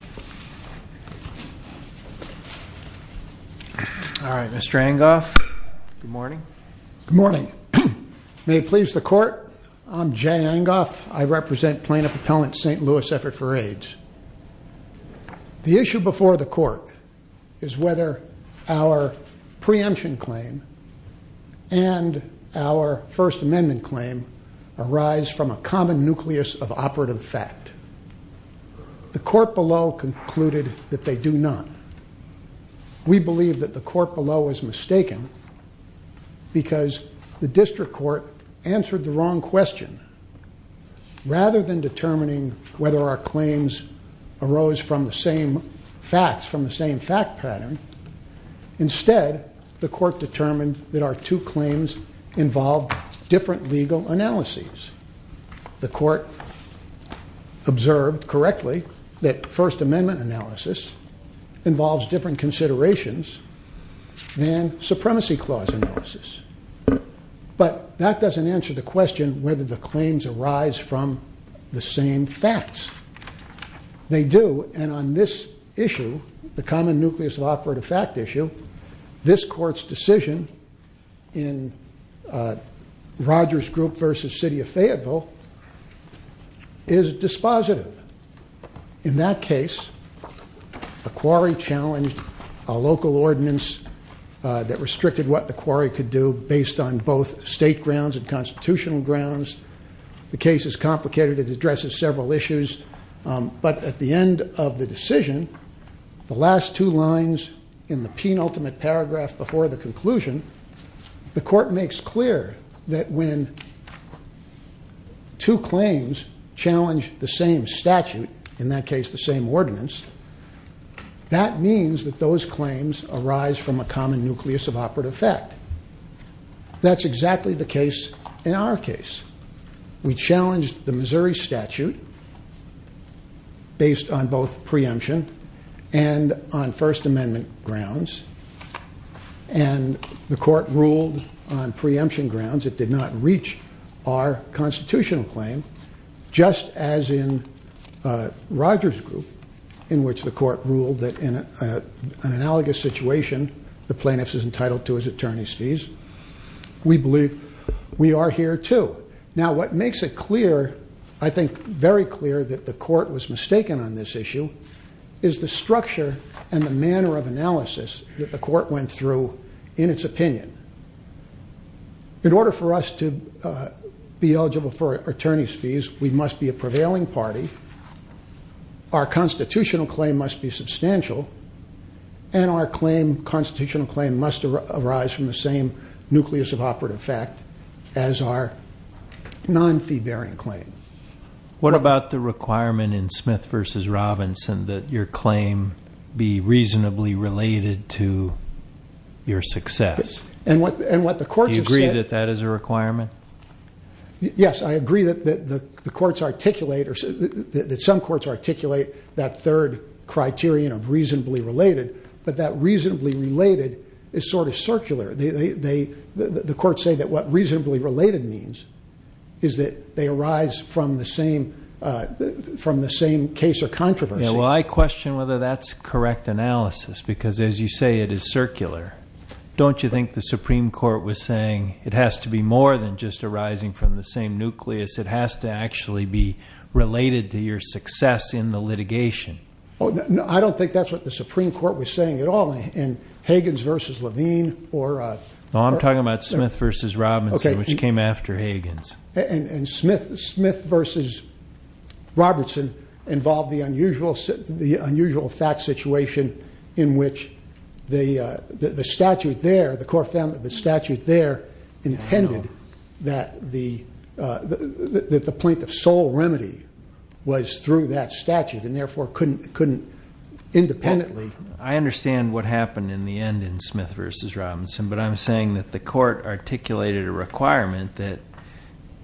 Plaintiff Appellant St. Louis Effort For AIDS All right, Mr. Angoff, good morning. Good morning. May it please the Court, I'm Jay Angoff. I represent Plaintiff Appellant St. Louis Effort For AIDS. The issue before the Court is whether our preemption claim and our First Amendment claim arise from a common nucleus of operative fact. The Court below concluded that they do not. We believe that the Court below is mistaken because the District Court answered the wrong question. Rather than determining whether our claims arose from the same facts, from the same fact pattern, instead the Court determined that our two claims involved different legal analyses. The Court observed correctly that First Amendment analysis involves different considerations than Supremacy Clause analysis. But that doesn't answer the question whether the claims arise from the same facts. They do, and on this issue, the common nucleus of operative fact issue, this Court's decision in Rogers Group v. City of Fayetteville is dispositive. In that case, a quarry challenged a local ordinance that restricted what the quarry could do based on both state grounds and constitutional grounds. The case is complicated. It addresses several issues. But at the end of the decision, the last two lines in the penultimate paragraph before the conclusion, the Court makes clear that when two claims challenge the same statute, in that case the same ordinance, that means that those claims arise from a common nucleus of operative fact. That's exactly the case in our case. We challenged the Missouri statute based on both preemption and on First Amendment grounds, and the Court ruled on preemption grounds. It did not reach our constitutional claim, just as in Rogers Group, in which the Court ruled that in an analogous situation, the plaintiff is entitled to his attorney's fees. We believe we are here, too. Now, what makes it clear, I think very clear, that the Court was mistaken on this issue is the structure and the manner of analysis that the Court went through in its opinion. In order for us to be eligible for attorney's fees, we must be a prevailing party, our constitutional claim must be substantial, and our constitutional claim must arise from the same nucleus of operative fact as our non-fee-bearing claim. What about the requirement in Smith v. Robinson that your claim be reasonably related to your success? Do you agree that that is a requirement? Yes, I agree that some courts articulate that third criterion of reasonably related, but that reasonably related is sort of circular. The courts say that what reasonably related means is that they arise from the same case or controversy. Well, I question whether that's correct analysis because, as you say, it is circular. Don't you think the Supreme Court was saying it has to be more than just arising from the same nucleus? It has to actually be related to your success in the litigation? I don't think that's what the Supreme Court was saying at all. In Higgins v. Levine or... No, I'm talking about Smith v. Robinson, which came after Higgins. And Smith v. Robertson involved the unusual fact situation in which the statute there, the Court found that the statute there intended that the plaintiff's sole remedy was through that statute and therefore couldn't independently... I understand what happened in the end in Smith v. Robinson, but I'm saying that the Court articulated a requirement that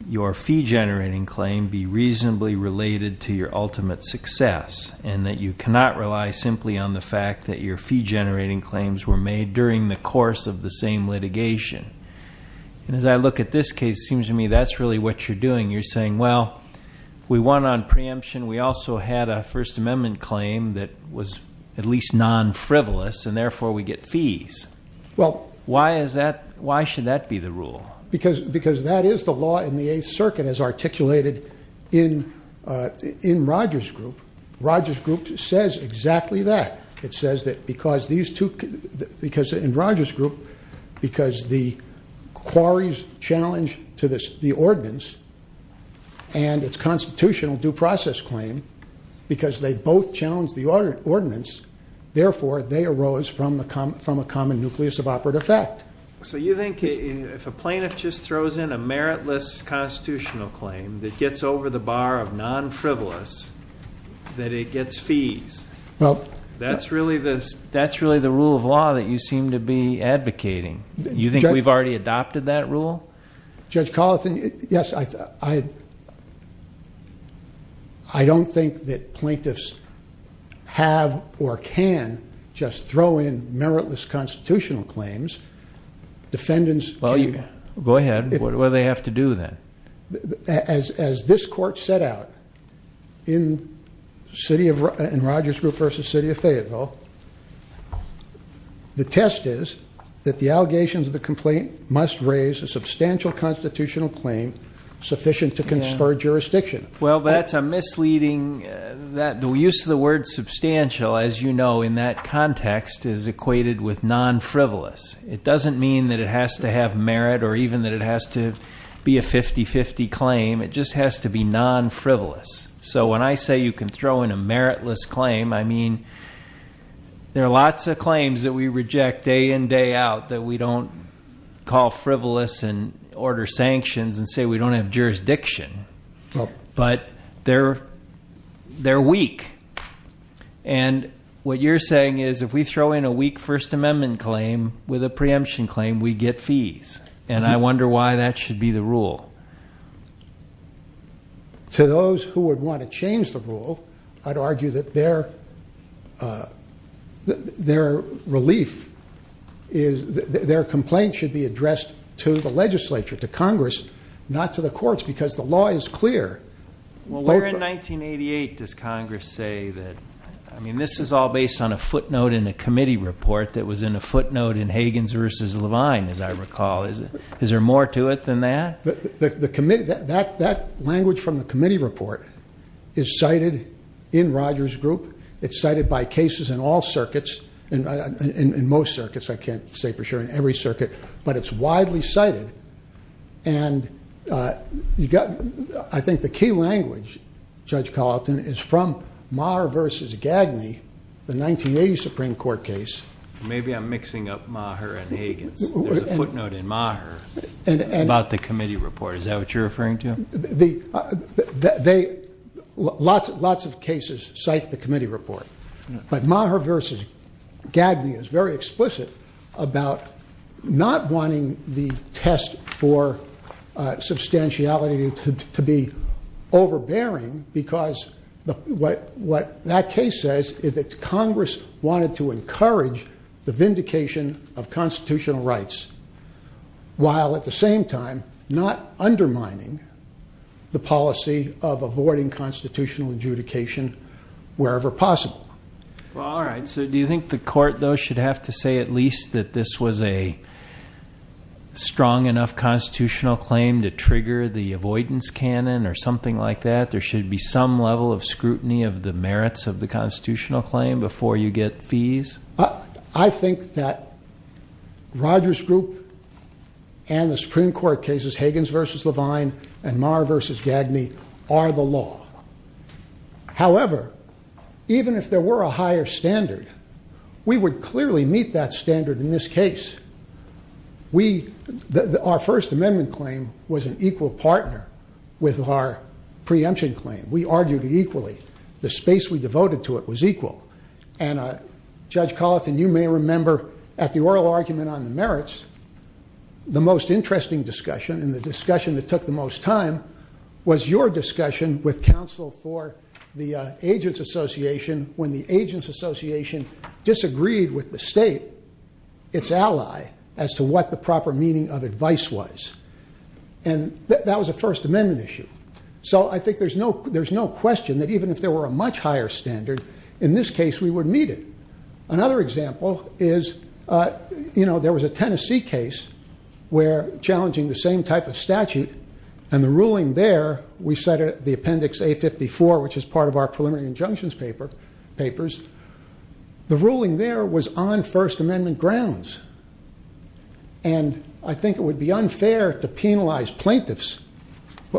your fee-generating claim be reasonably related to your ultimate success and that you cannot rely simply on the fact that your fee-generating claims were made during the course of the same litigation. And as I look at this case, it seems to me that's really what you're doing. You're saying, well, we won on preemption. We also had a First Amendment claim that was at least non-frivolous, and therefore we get fees. Why should that be the rule? Because that is the law in the Eighth Circuit, as articulated in Rogers' group. Rogers' group says exactly that. It says that because in Rogers' group, because the quarry's challenge to the ordinance and its constitutional due process claim, because they both challenged the ordinance, therefore they arose from a common nucleus of operative fact. So you think if a plaintiff just throws in a meritless constitutional claim that gets over the bar of non-frivolous, that it gets fees? That's really the rule of law that you seem to be advocating. You think we've already adopted that rule? Judge Colleton, yes. I don't think that plaintiffs have or can just throw in meritless constitutional claims. As this court set out in Rogers' group versus City of Fayetteville, the test is that the allegations of the complaint must raise a substantial constitutional claim sufficient to confer jurisdiction. Well, that's misleading. The use of the word substantial, as you know, in that context is equated with non-frivolous. It doesn't mean that it has to have merit or even that it has to be a 50-50 claim. It just has to be non-frivolous. So when I say you can throw in a meritless claim, I mean there are lots of claims that we reject day in, day out, that we don't call frivolous and order sanctions and say we don't have jurisdiction. But they're weak. And what you're saying is if we throw in a weak First Amendment claim with a preemption claim, we get fees. And I wonder why that should be the rule. To those who would want to change the rule, I'd argue that their relief, their complaint should be addressed to the legislature, to Congress, not to the courts, because the law is clear. Well, where in 1988 does Congress say that, I mean, this is all based on a footnote in a committee report that was in a footnote in Higgins v. Levine, as I recall. Is there more to it than that? That language from the committee report is cited in Rogers' group. It's cited by cases in all circuits, in most circuits, I can't say for sure, in every circuit. But it's widely cited. And I think the key language, Judge Colleton, is from Maher v. Gagney, the 1980 Supreme Court case. Maybe I'm mixing up Maher and Higgins. There's a footnote in Maher about the committee report. Is that what you're referring to? Lots of cases cite the committee report. But Maher v. Gagney is very explicit about not wanting the test for substantiality to be overbearing because what that case says is that Congress wanted to encourage the vindication of constitutional rights, while at the same time not undermining the policy of avoiding constitutional adjudication wherever possible. Well, all right, so do you think the court, though, should have to say at least that this was a strong enough constitutional claim to trigger the avoidance canon or something like that? There should be some level of scrutiny of the merits of the constitutional claim before you get fees? I think that Rogers Group and the Supreme Court cases, Higgins v. Levine and Maher v. Gagney, are the law. However, even if there were a higher standard, we would clearly meet that standard in this case. Our First Amendment claim was an equal partner with our preemption claim. We argued it equally. The space we devoted to it was equal. And, Judge Colleton, you may remember at the oral argument on the merits, the most interesting discussion and the discussion that took the most time was your discussion with counsel for the Agents Association when the Agents Association disagreed with the state, its ally, as to what the proper meaning of advice was. And that was a First Amendment issue. So I think there's no question that even if there were a much higher standard, in this case we would meet it. Another example is, you know, there was a Tennessee case where challenging the same type of statute, and the ruling there, we set the appendix A-54, which is part of our preliminary injunctions papers. The ruling there was on First Amendment grounds. And I think it would be unfair to penalize plaintiffs.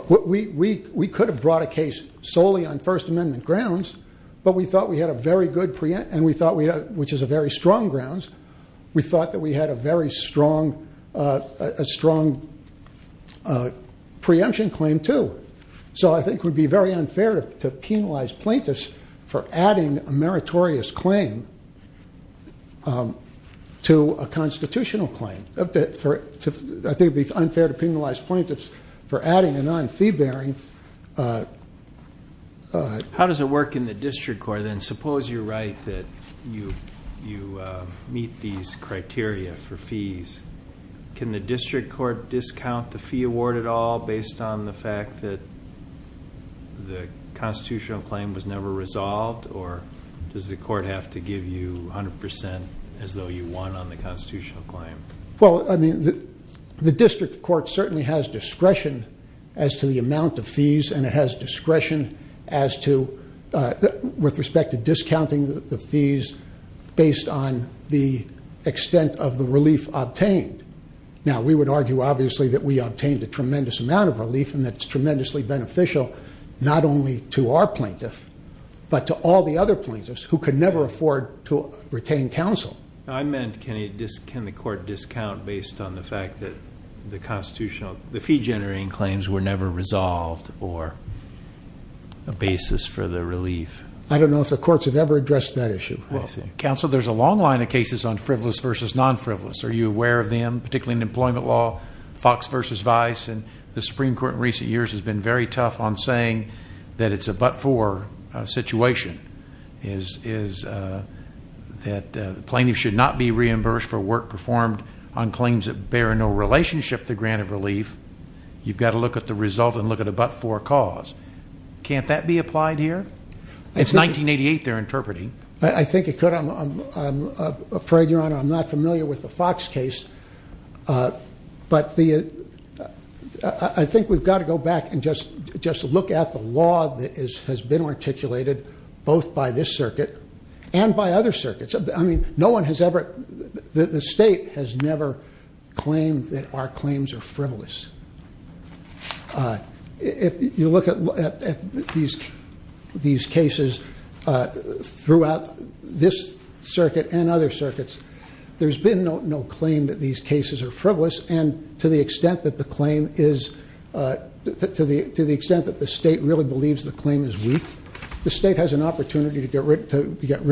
We could have brought a case solely on First Amendment grounds, but we thought we had a very good preemption, which is a very strong grounds. We thought that we had a very strong preemption claim, too. So I think it would be very unfair to penalize plaintiffs for adding a meritorious claim to a constitutional claim. I think it would be unfair to penalize plaintiffs for adding a non-fee bearing. How does it work in the district court, then? Suppose you're right that you meet these criteria for fees. Can the district court discount the fee award at all based on the fact that the constitutional claim was never resolved, or does the court have to give you 100% as though you won on the constitutional claim? Well, I mean, the district court certainly has discretion as to the amount of fees, and it has discretion as to, with respect to discounting the fees, based on the extent of the relief obtained. Now, we would argue, obviously, that we obtained a tremendous amount of relief, and that's tremendously beneficial not only to our plaintiff, but to all the other plaintiffs who could never afford to retain counsel. I meant can the court discount based on the fact that the fee-generating claims were never resolved, or a basis for the relief. I don't know if the courts have ever addressed that issue. Counsel, there's a long line of cases on frivolous versus non-frivolous. Are you aware of them, particularly in employment law, Fox versus Vice? The Supreme Court in recent years has been very tough on saying that it's a but-for situation, that the plaintiff should not be reimbursed for work performed on claims that bear no relationship to the grant of relief. You've got to look at the result and look at a but-for cause. Can't that be applied here? It's 1988 they're interpreting. I think it could. I'm afraid, Your Honor, I'm not familiar with the Fox case. But I think we've got to go back and just look at the law that has been articulated both by this circuit and by other circuits. I mean, no one has ever... The state has never claimed that our claims are frivolous. If you look at these cases throughout this circuit and other circuits, there's been no claim that these cases are frivolous, and to the extent that the claim is... To the extent that the state really believes the claim is weak, the state has an opportunity to get rid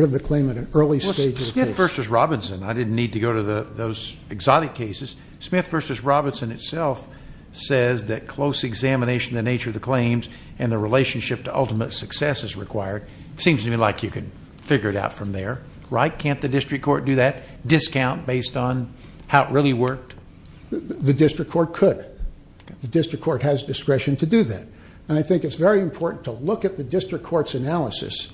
of the claim at an early stage of the case. Well, Smith versus Robinson, I didn't need to go to those exotic cases. Smith versus Robinson itself says that close examination of the nature of the claims and the relationship to ultimate success is required. It seems to me like you can figure it out from there. Right? Can't the district court do that? Discount based on how it really worked? The district court could. The district court has discretion to do that. And I think it's very important to look at the district court's analysis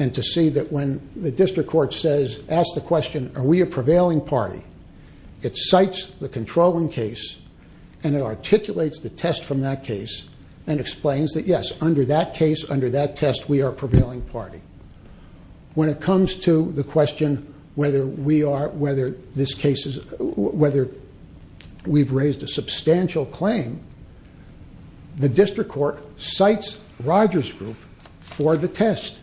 and to see that when the district court says, ask the question, are we a prevailing party? It cites the controlling case and it articulates the test from that case and explains that, yes, under that case, under that test, we are a prevailing party. When it comes to the question whether we are... whether this case is... whether we've raised a substantial claim, the district court cites Rogers Group for the test.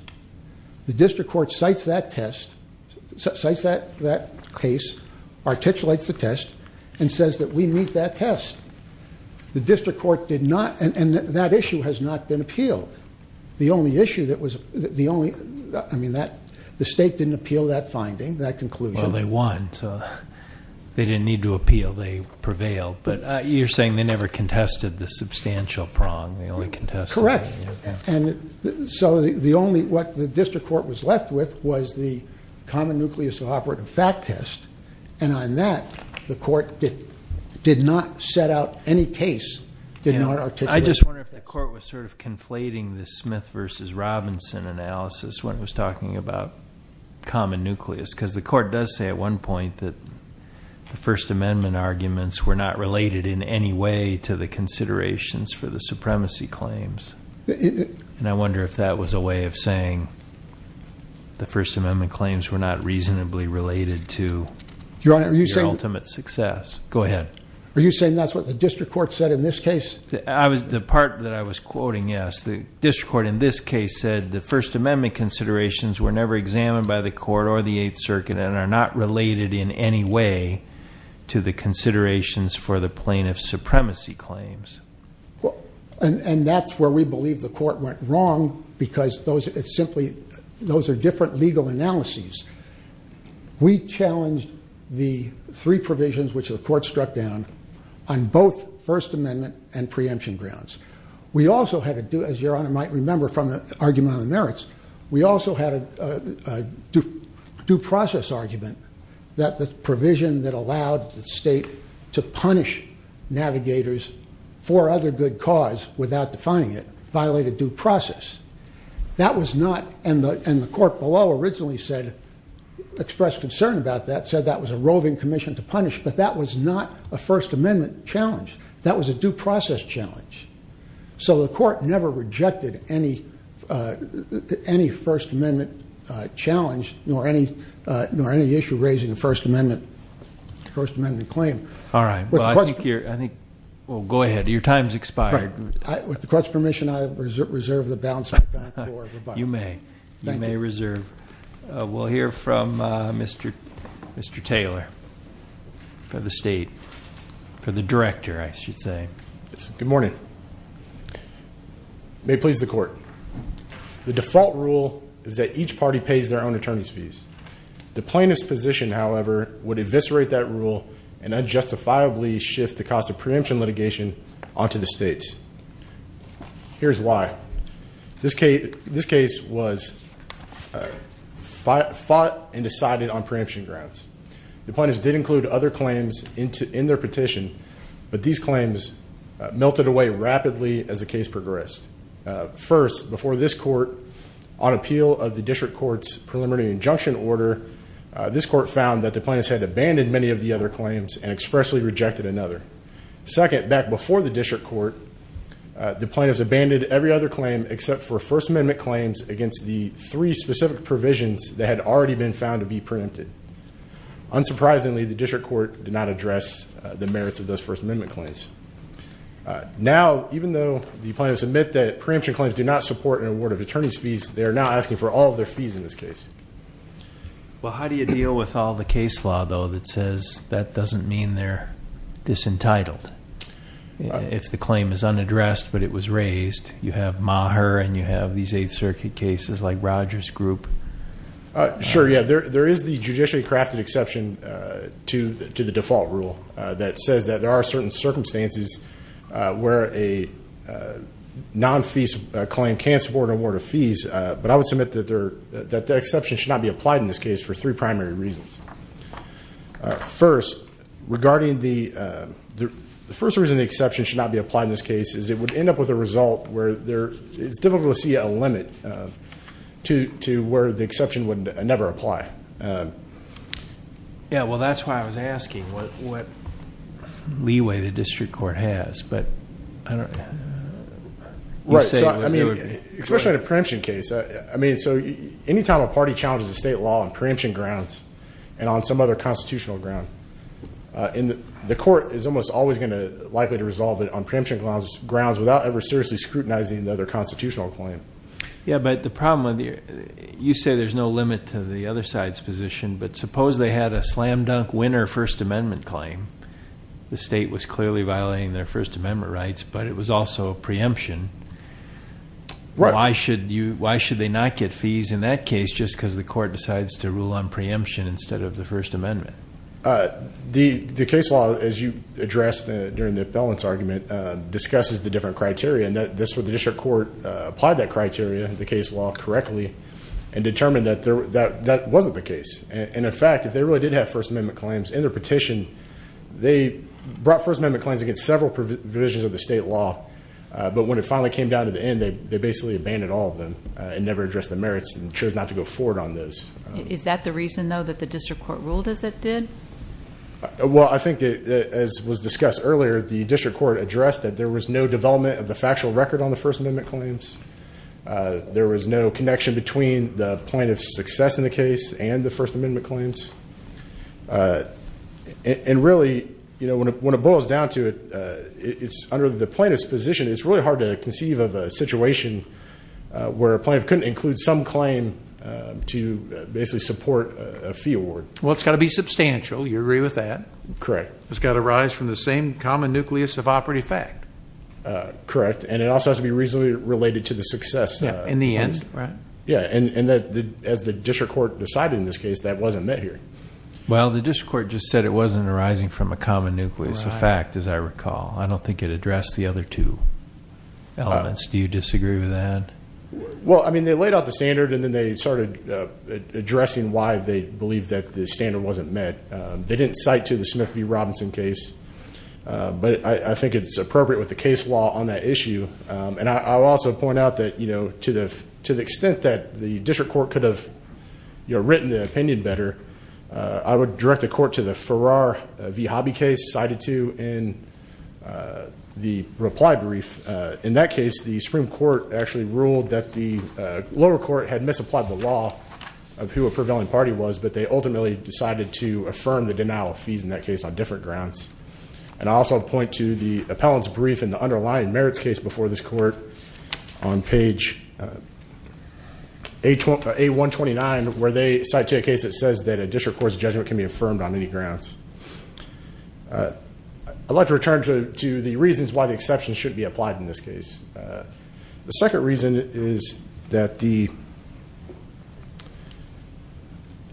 The district court cites that test... articulates the test and says that we meet that test. The district court did not... and that issue has not been appealed. The only issue that was... the only... I mean, the state didn't appeal that finding, that conclusion. Well, they won, so they didn't need to appeal. They prevailed. But you're saying they never contested the substantial prong. They only contested... Correct. And so the only... what the district court was left with was the common nucleus of operative fact test and on that, the court did not set out any case, did not articulate... I just wonder if the court was sort of conflating the Smith v. Robinson analysis when it was talking about common nucleus because the court does say at one point that the First Amendment arguments were not related in any way to the considerations for the supremacy claims. And I wonder if that was a way of saying the First Amendment claims were not reasonably related to your ultimate success. Go ahead. Are you saying that's what the district court said in this case? The part that I was quoting, yes. The district court in this case said the First Amendment considerations were never examined by the court or the Eighth Circuit and are not related in any way to the considerations for the plaintiff's supremacy claims. And that's where we believe the court went wrong because those are different legal analyses. We challenged the three provisions which the court struck down on both First Amendment and preemption grounds. We also had to do, as Your Honour might remember from the argument on the merits, we also had a due process argument that the provision that allowed the state to punish navigators for other good cause without defining it violated due process. That was not, and the court below originally said, expressed concern about that, said that was a roving commission to punish, but that was not a First Amendment challenge. That was a due process challenge. So the court never rejected any First Amendment challenge nor any issue raising a First Amendment claim. All right, well, I think you're... With the court's permission, I reserve the balance. You may, you may reserve. We'll hear from Mr. Taylor for the state, for the director, I should say. Good morning. May it please the court. The default rule is that each party pays their own attorney's fees. The plaintiff's position, however, would eviscerate that rule and unjustifiably shift the cost of preemption litigation onto the states. Here's why. This case was fought and decided on preemption grounds. The plaintiffs did include other claims in their petition, but these claims melted away rapidly as the case progressed. First, before this court, on appeal of the district court's preliminary injunction order, this court found that the plaintiffs had abandoned many of the other claims and expressly rejected another. Second, back before the district court, the plaintiffs abandoned every other claim except for First Amendment claims against the three specific provisions that had already been found to be preempted. Unsurprisingly, the district court did not address the merits of those First Amendment claims. Now, even though the plaintiffs admit that preemption claims do not support an award of attorney's fees, they are now asking for all of their fees in this case. Well, how do you deal with all the case law, though, that says that doesn't mean they're disentitled? If the claim is unaddressed but it was raised, you have Maher and you have these Eighth Circuit cases like Rogers Group. Sure, yeah. There is the judicially crafted exception to the default rule that says that there are certain circumstances where a non-fees claim can't support an award of fees, but I would submit that that exception should not be applied in this case for three primary reasons. First, the first reason the exception should not be applied in this case is it would end up with a result where it's difficult to see a limit to where the exception would never apply. Yeah, well, that's why I was asking what leeway the district court has. Right, especially in a preemption case. Any time a party challenges a state law on preemption grounds and on some other constitutional ground, the court is almost always likely to resolve it on preemption grounds without ever seriously scrutinizing the other constitutional claim. Yeah, but the problem, you say there's no limit to the other side's position, but suppose they had a slam-dunk winner First Amendment claim. The state was clearly violating their First Amendment rights, but it was also a preemption. Right. Why should they not get fees in that case just because the court decides to rule on preemption instead of the First Amendment? The case law, as you addressed during the balance argument, discusses the different criteria, and the district court applied that criteria, the case law, correctly and determined that that wasn't the case. In fact, if they really did have First Amendment claims in their petition, they brought First Amendment claims against several provisions of the state law, but when it finally came down to the end, they basically abandoned all of them and never addressed the merits and chose not to go forward on those. Is that the reason, though, that the district court ruled as it did? Well, I think, as was discussed earlier, the district court addressed that there was no development of the factual record on the First Amendment claims. There was no connection between the plaintiff's success in the case and the First Amendment claims. And really, when it boils down to it, under the plaintiff's position, it's really hard to conceive of a situation where a plaintiff couldn't include some claim to basically support a fee award. Well, it's got to be substantial. You agree with that? Correct. It's got to arise from the same common nucleus of operative fact. Correct. And it also has to be reasonably related to the success. In the end, right? Yeah, and as the district court decided in this case, that wasn't met here. Well, the district court just said it wasn't arising from a common nucleus of fact, as I recall. I don't think it addressed the other two elements. Do you disagree with that? Well, I mean, they laid out the standard, and then they started addressing why they believed that the standard wasn't met. They didn't cite to the Smith v. Robinson case, but I think it's appropriate with the case law on that issue. And I'll also point out that to the extent that the district court could have written the opinion better, I would direct the court to the Farrar v. Hobby case, which they decided to in the reply brief. In that case, the Supreme Court actually ruled that the lower court had misapplied the law of who a prevailing party was, but they ultimately decided to affirm the denial of fees in that case on different grounds. And I'll also point to the appellant's brief in the underlying merits case before this court on page A129, where they cite to a case that says that a district court's judgment can be affirmed on any grounds. I'd like to return to the reasons why the exception should be applied in this case. The second reason is that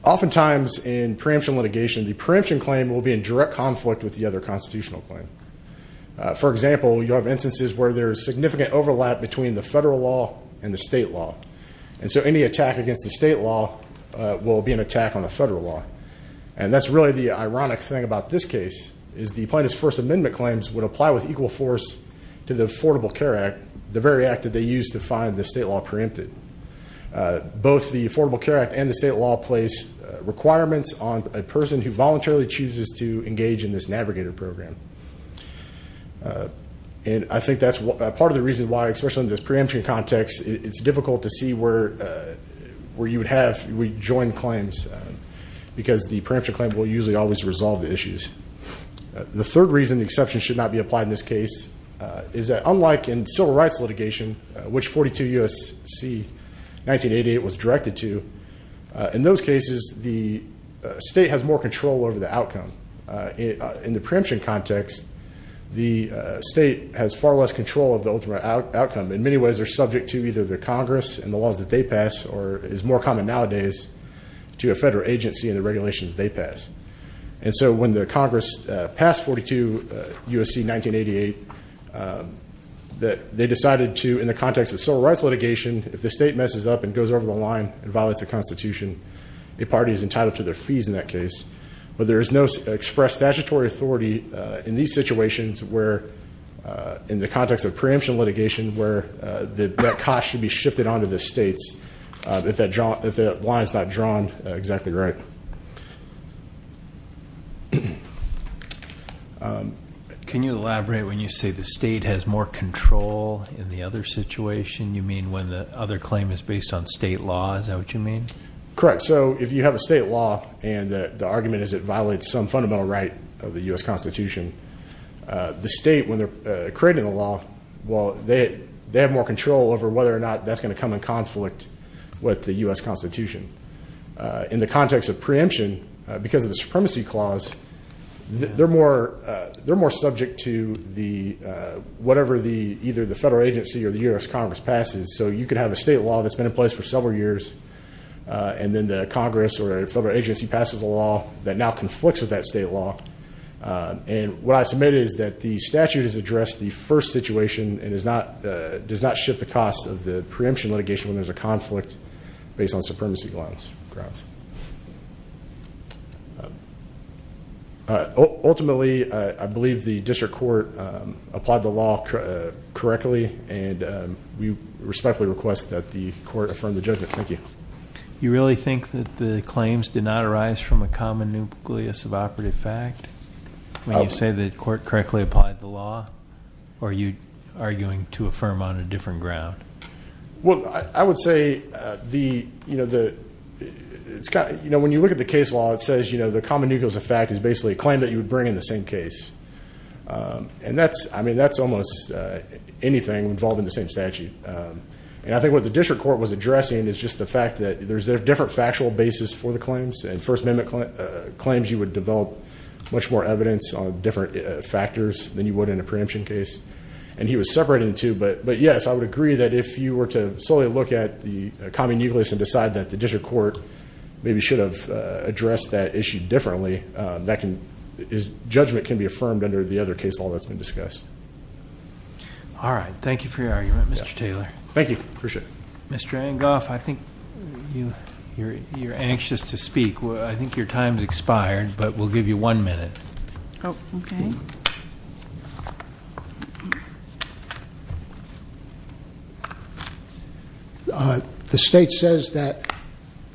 oftentimes in preemption litigation, the preemption claim will be in direct conflict with the other constitutional claim. For example, you have instances where there is significant overlap between the federal law and the state law, and so any attack against the state law will be an attack on the federal law. And that's really the ironic thing about this case, is the plaintiff's First Amendment claims would apply with equal force to the Affordable Care Act, the very act that they used to find the state law preempted. Both the Affordable Care Act and the state law place requirements on a person who voluntarily chooses to engage in this navigator program. And I think that's part of the reason why, especially in this preemption context, it's difficult to see where you would have rejoined claims, because the preemption claim will usually always resolve the issues. The third reason the exception should not be applied in this case is that unlike in civil rights litigation, which 42 U.S.C. 1988 was directed to, in those cases the state has more control over the outcome. In the preemption context, the state has far less control of the ultimate outcome. In many ways, they're subject to either the Congress and the laws that they pass, or is more common nowadays to a federal agency and the regulations they pass. And so when the Congress passed 42 U.S.C. 1988, they decided to, in the context of civil rights litigation, if the state messes up and goes over the line and violates the Constitution, a party is entitled to their fees in that case. But there is no expressed statutory authority in these situations where, in the context of preemption litigation, where that cost should be shifted onto the states if that line is not drawn exactly right. Can you elaborate when you say the state has more control in the other situation? You mean when the other claim is based on state law? Is that what you mean? Correct. So if you have a state law, and the argument is it violates some fundamental right of the U.S. Constitution, the state, when they're creating the law, well, they have more control over whether or not that's going to come in conflict with the U.S. Constitution. In the context of preemption, because of the supremacy clause, they're more subject to whatever either the federal agency or the U.S. Congress passes. So you could have a state law that's been in place for several years, and then the Congress or a federal agency passes a law that now conflicts with that state law. And what I submit is that the statute has addressed the first situation and does not shift the cost of the preemption litigation when there's a conflict based on supremacy grounds. Ultimately, I believe the district court applied the law correctly, and we respectfully request that the court affirm the judgment. Thank you. Do you really think that the claims did not arise from a common nucleus of operative fact, when you say the court correctly applied the law, or are you arguing to affirm on a different ground? Well, I would say when you look at the case law, it says the common nucleus of fact is basically a claim that you would bring in the same case. And that's almost anything involved in the same statute. And I think what the district court was addressing is just the fact that there's a different factual basis for the claims, and First Amendment claims you would develop much more evidence on different factors than you would in a preemption case. And he was separating the two. But, yes, I would agree that if you were to solely look at the common nucleus and decide that the district court maybe should have addressed that issue differently, that judgment can be affirmed under the other case law that's been discussed. All right. Thank you for your argument, Mr. Taylor. Thank you. I appreciate it. Mr. Angoff, I think you're anxious to speak. I think your time has expired, but we'll give you one minute. Oh, okay. The state says that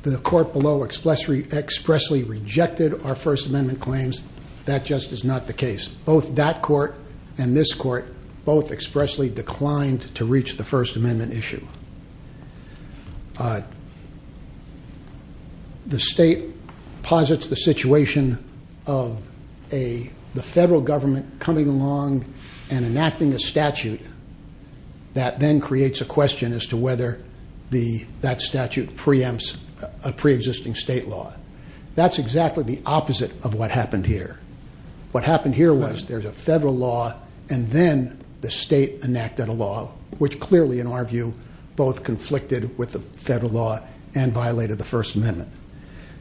the court below expressly rejected our First Amendment claims. That just is not the case. Both that court and this court both expressly declined to reach the First Amendment issue. The state posits the situation of the federal government coming along and enacting a statute that then creates a question as to whether that statute preempts a preexisting state law. That's exactly the opposite of what happened here. What happened here was there's a federal law, and then the state enacted a law, which clearly, in our view, both conflicted with the federal law and violated the First Amendment.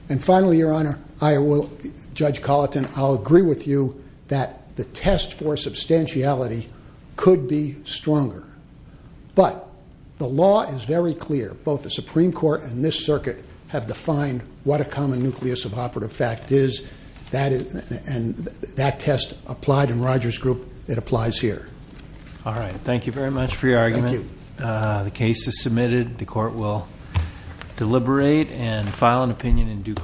And finally, Your Honor, Judge Colleton, I'll agree with you that the test for substantiality could be stronger. But the law is very clear. Both the Supreme Court and this circuit have defined what a common nucleus of operative fact is. And that test applied in Roger's group. It applies here. All right. Thank you very much for your argument. Thank you. The case is submitted. The court will deliberate and file an opinion in due course.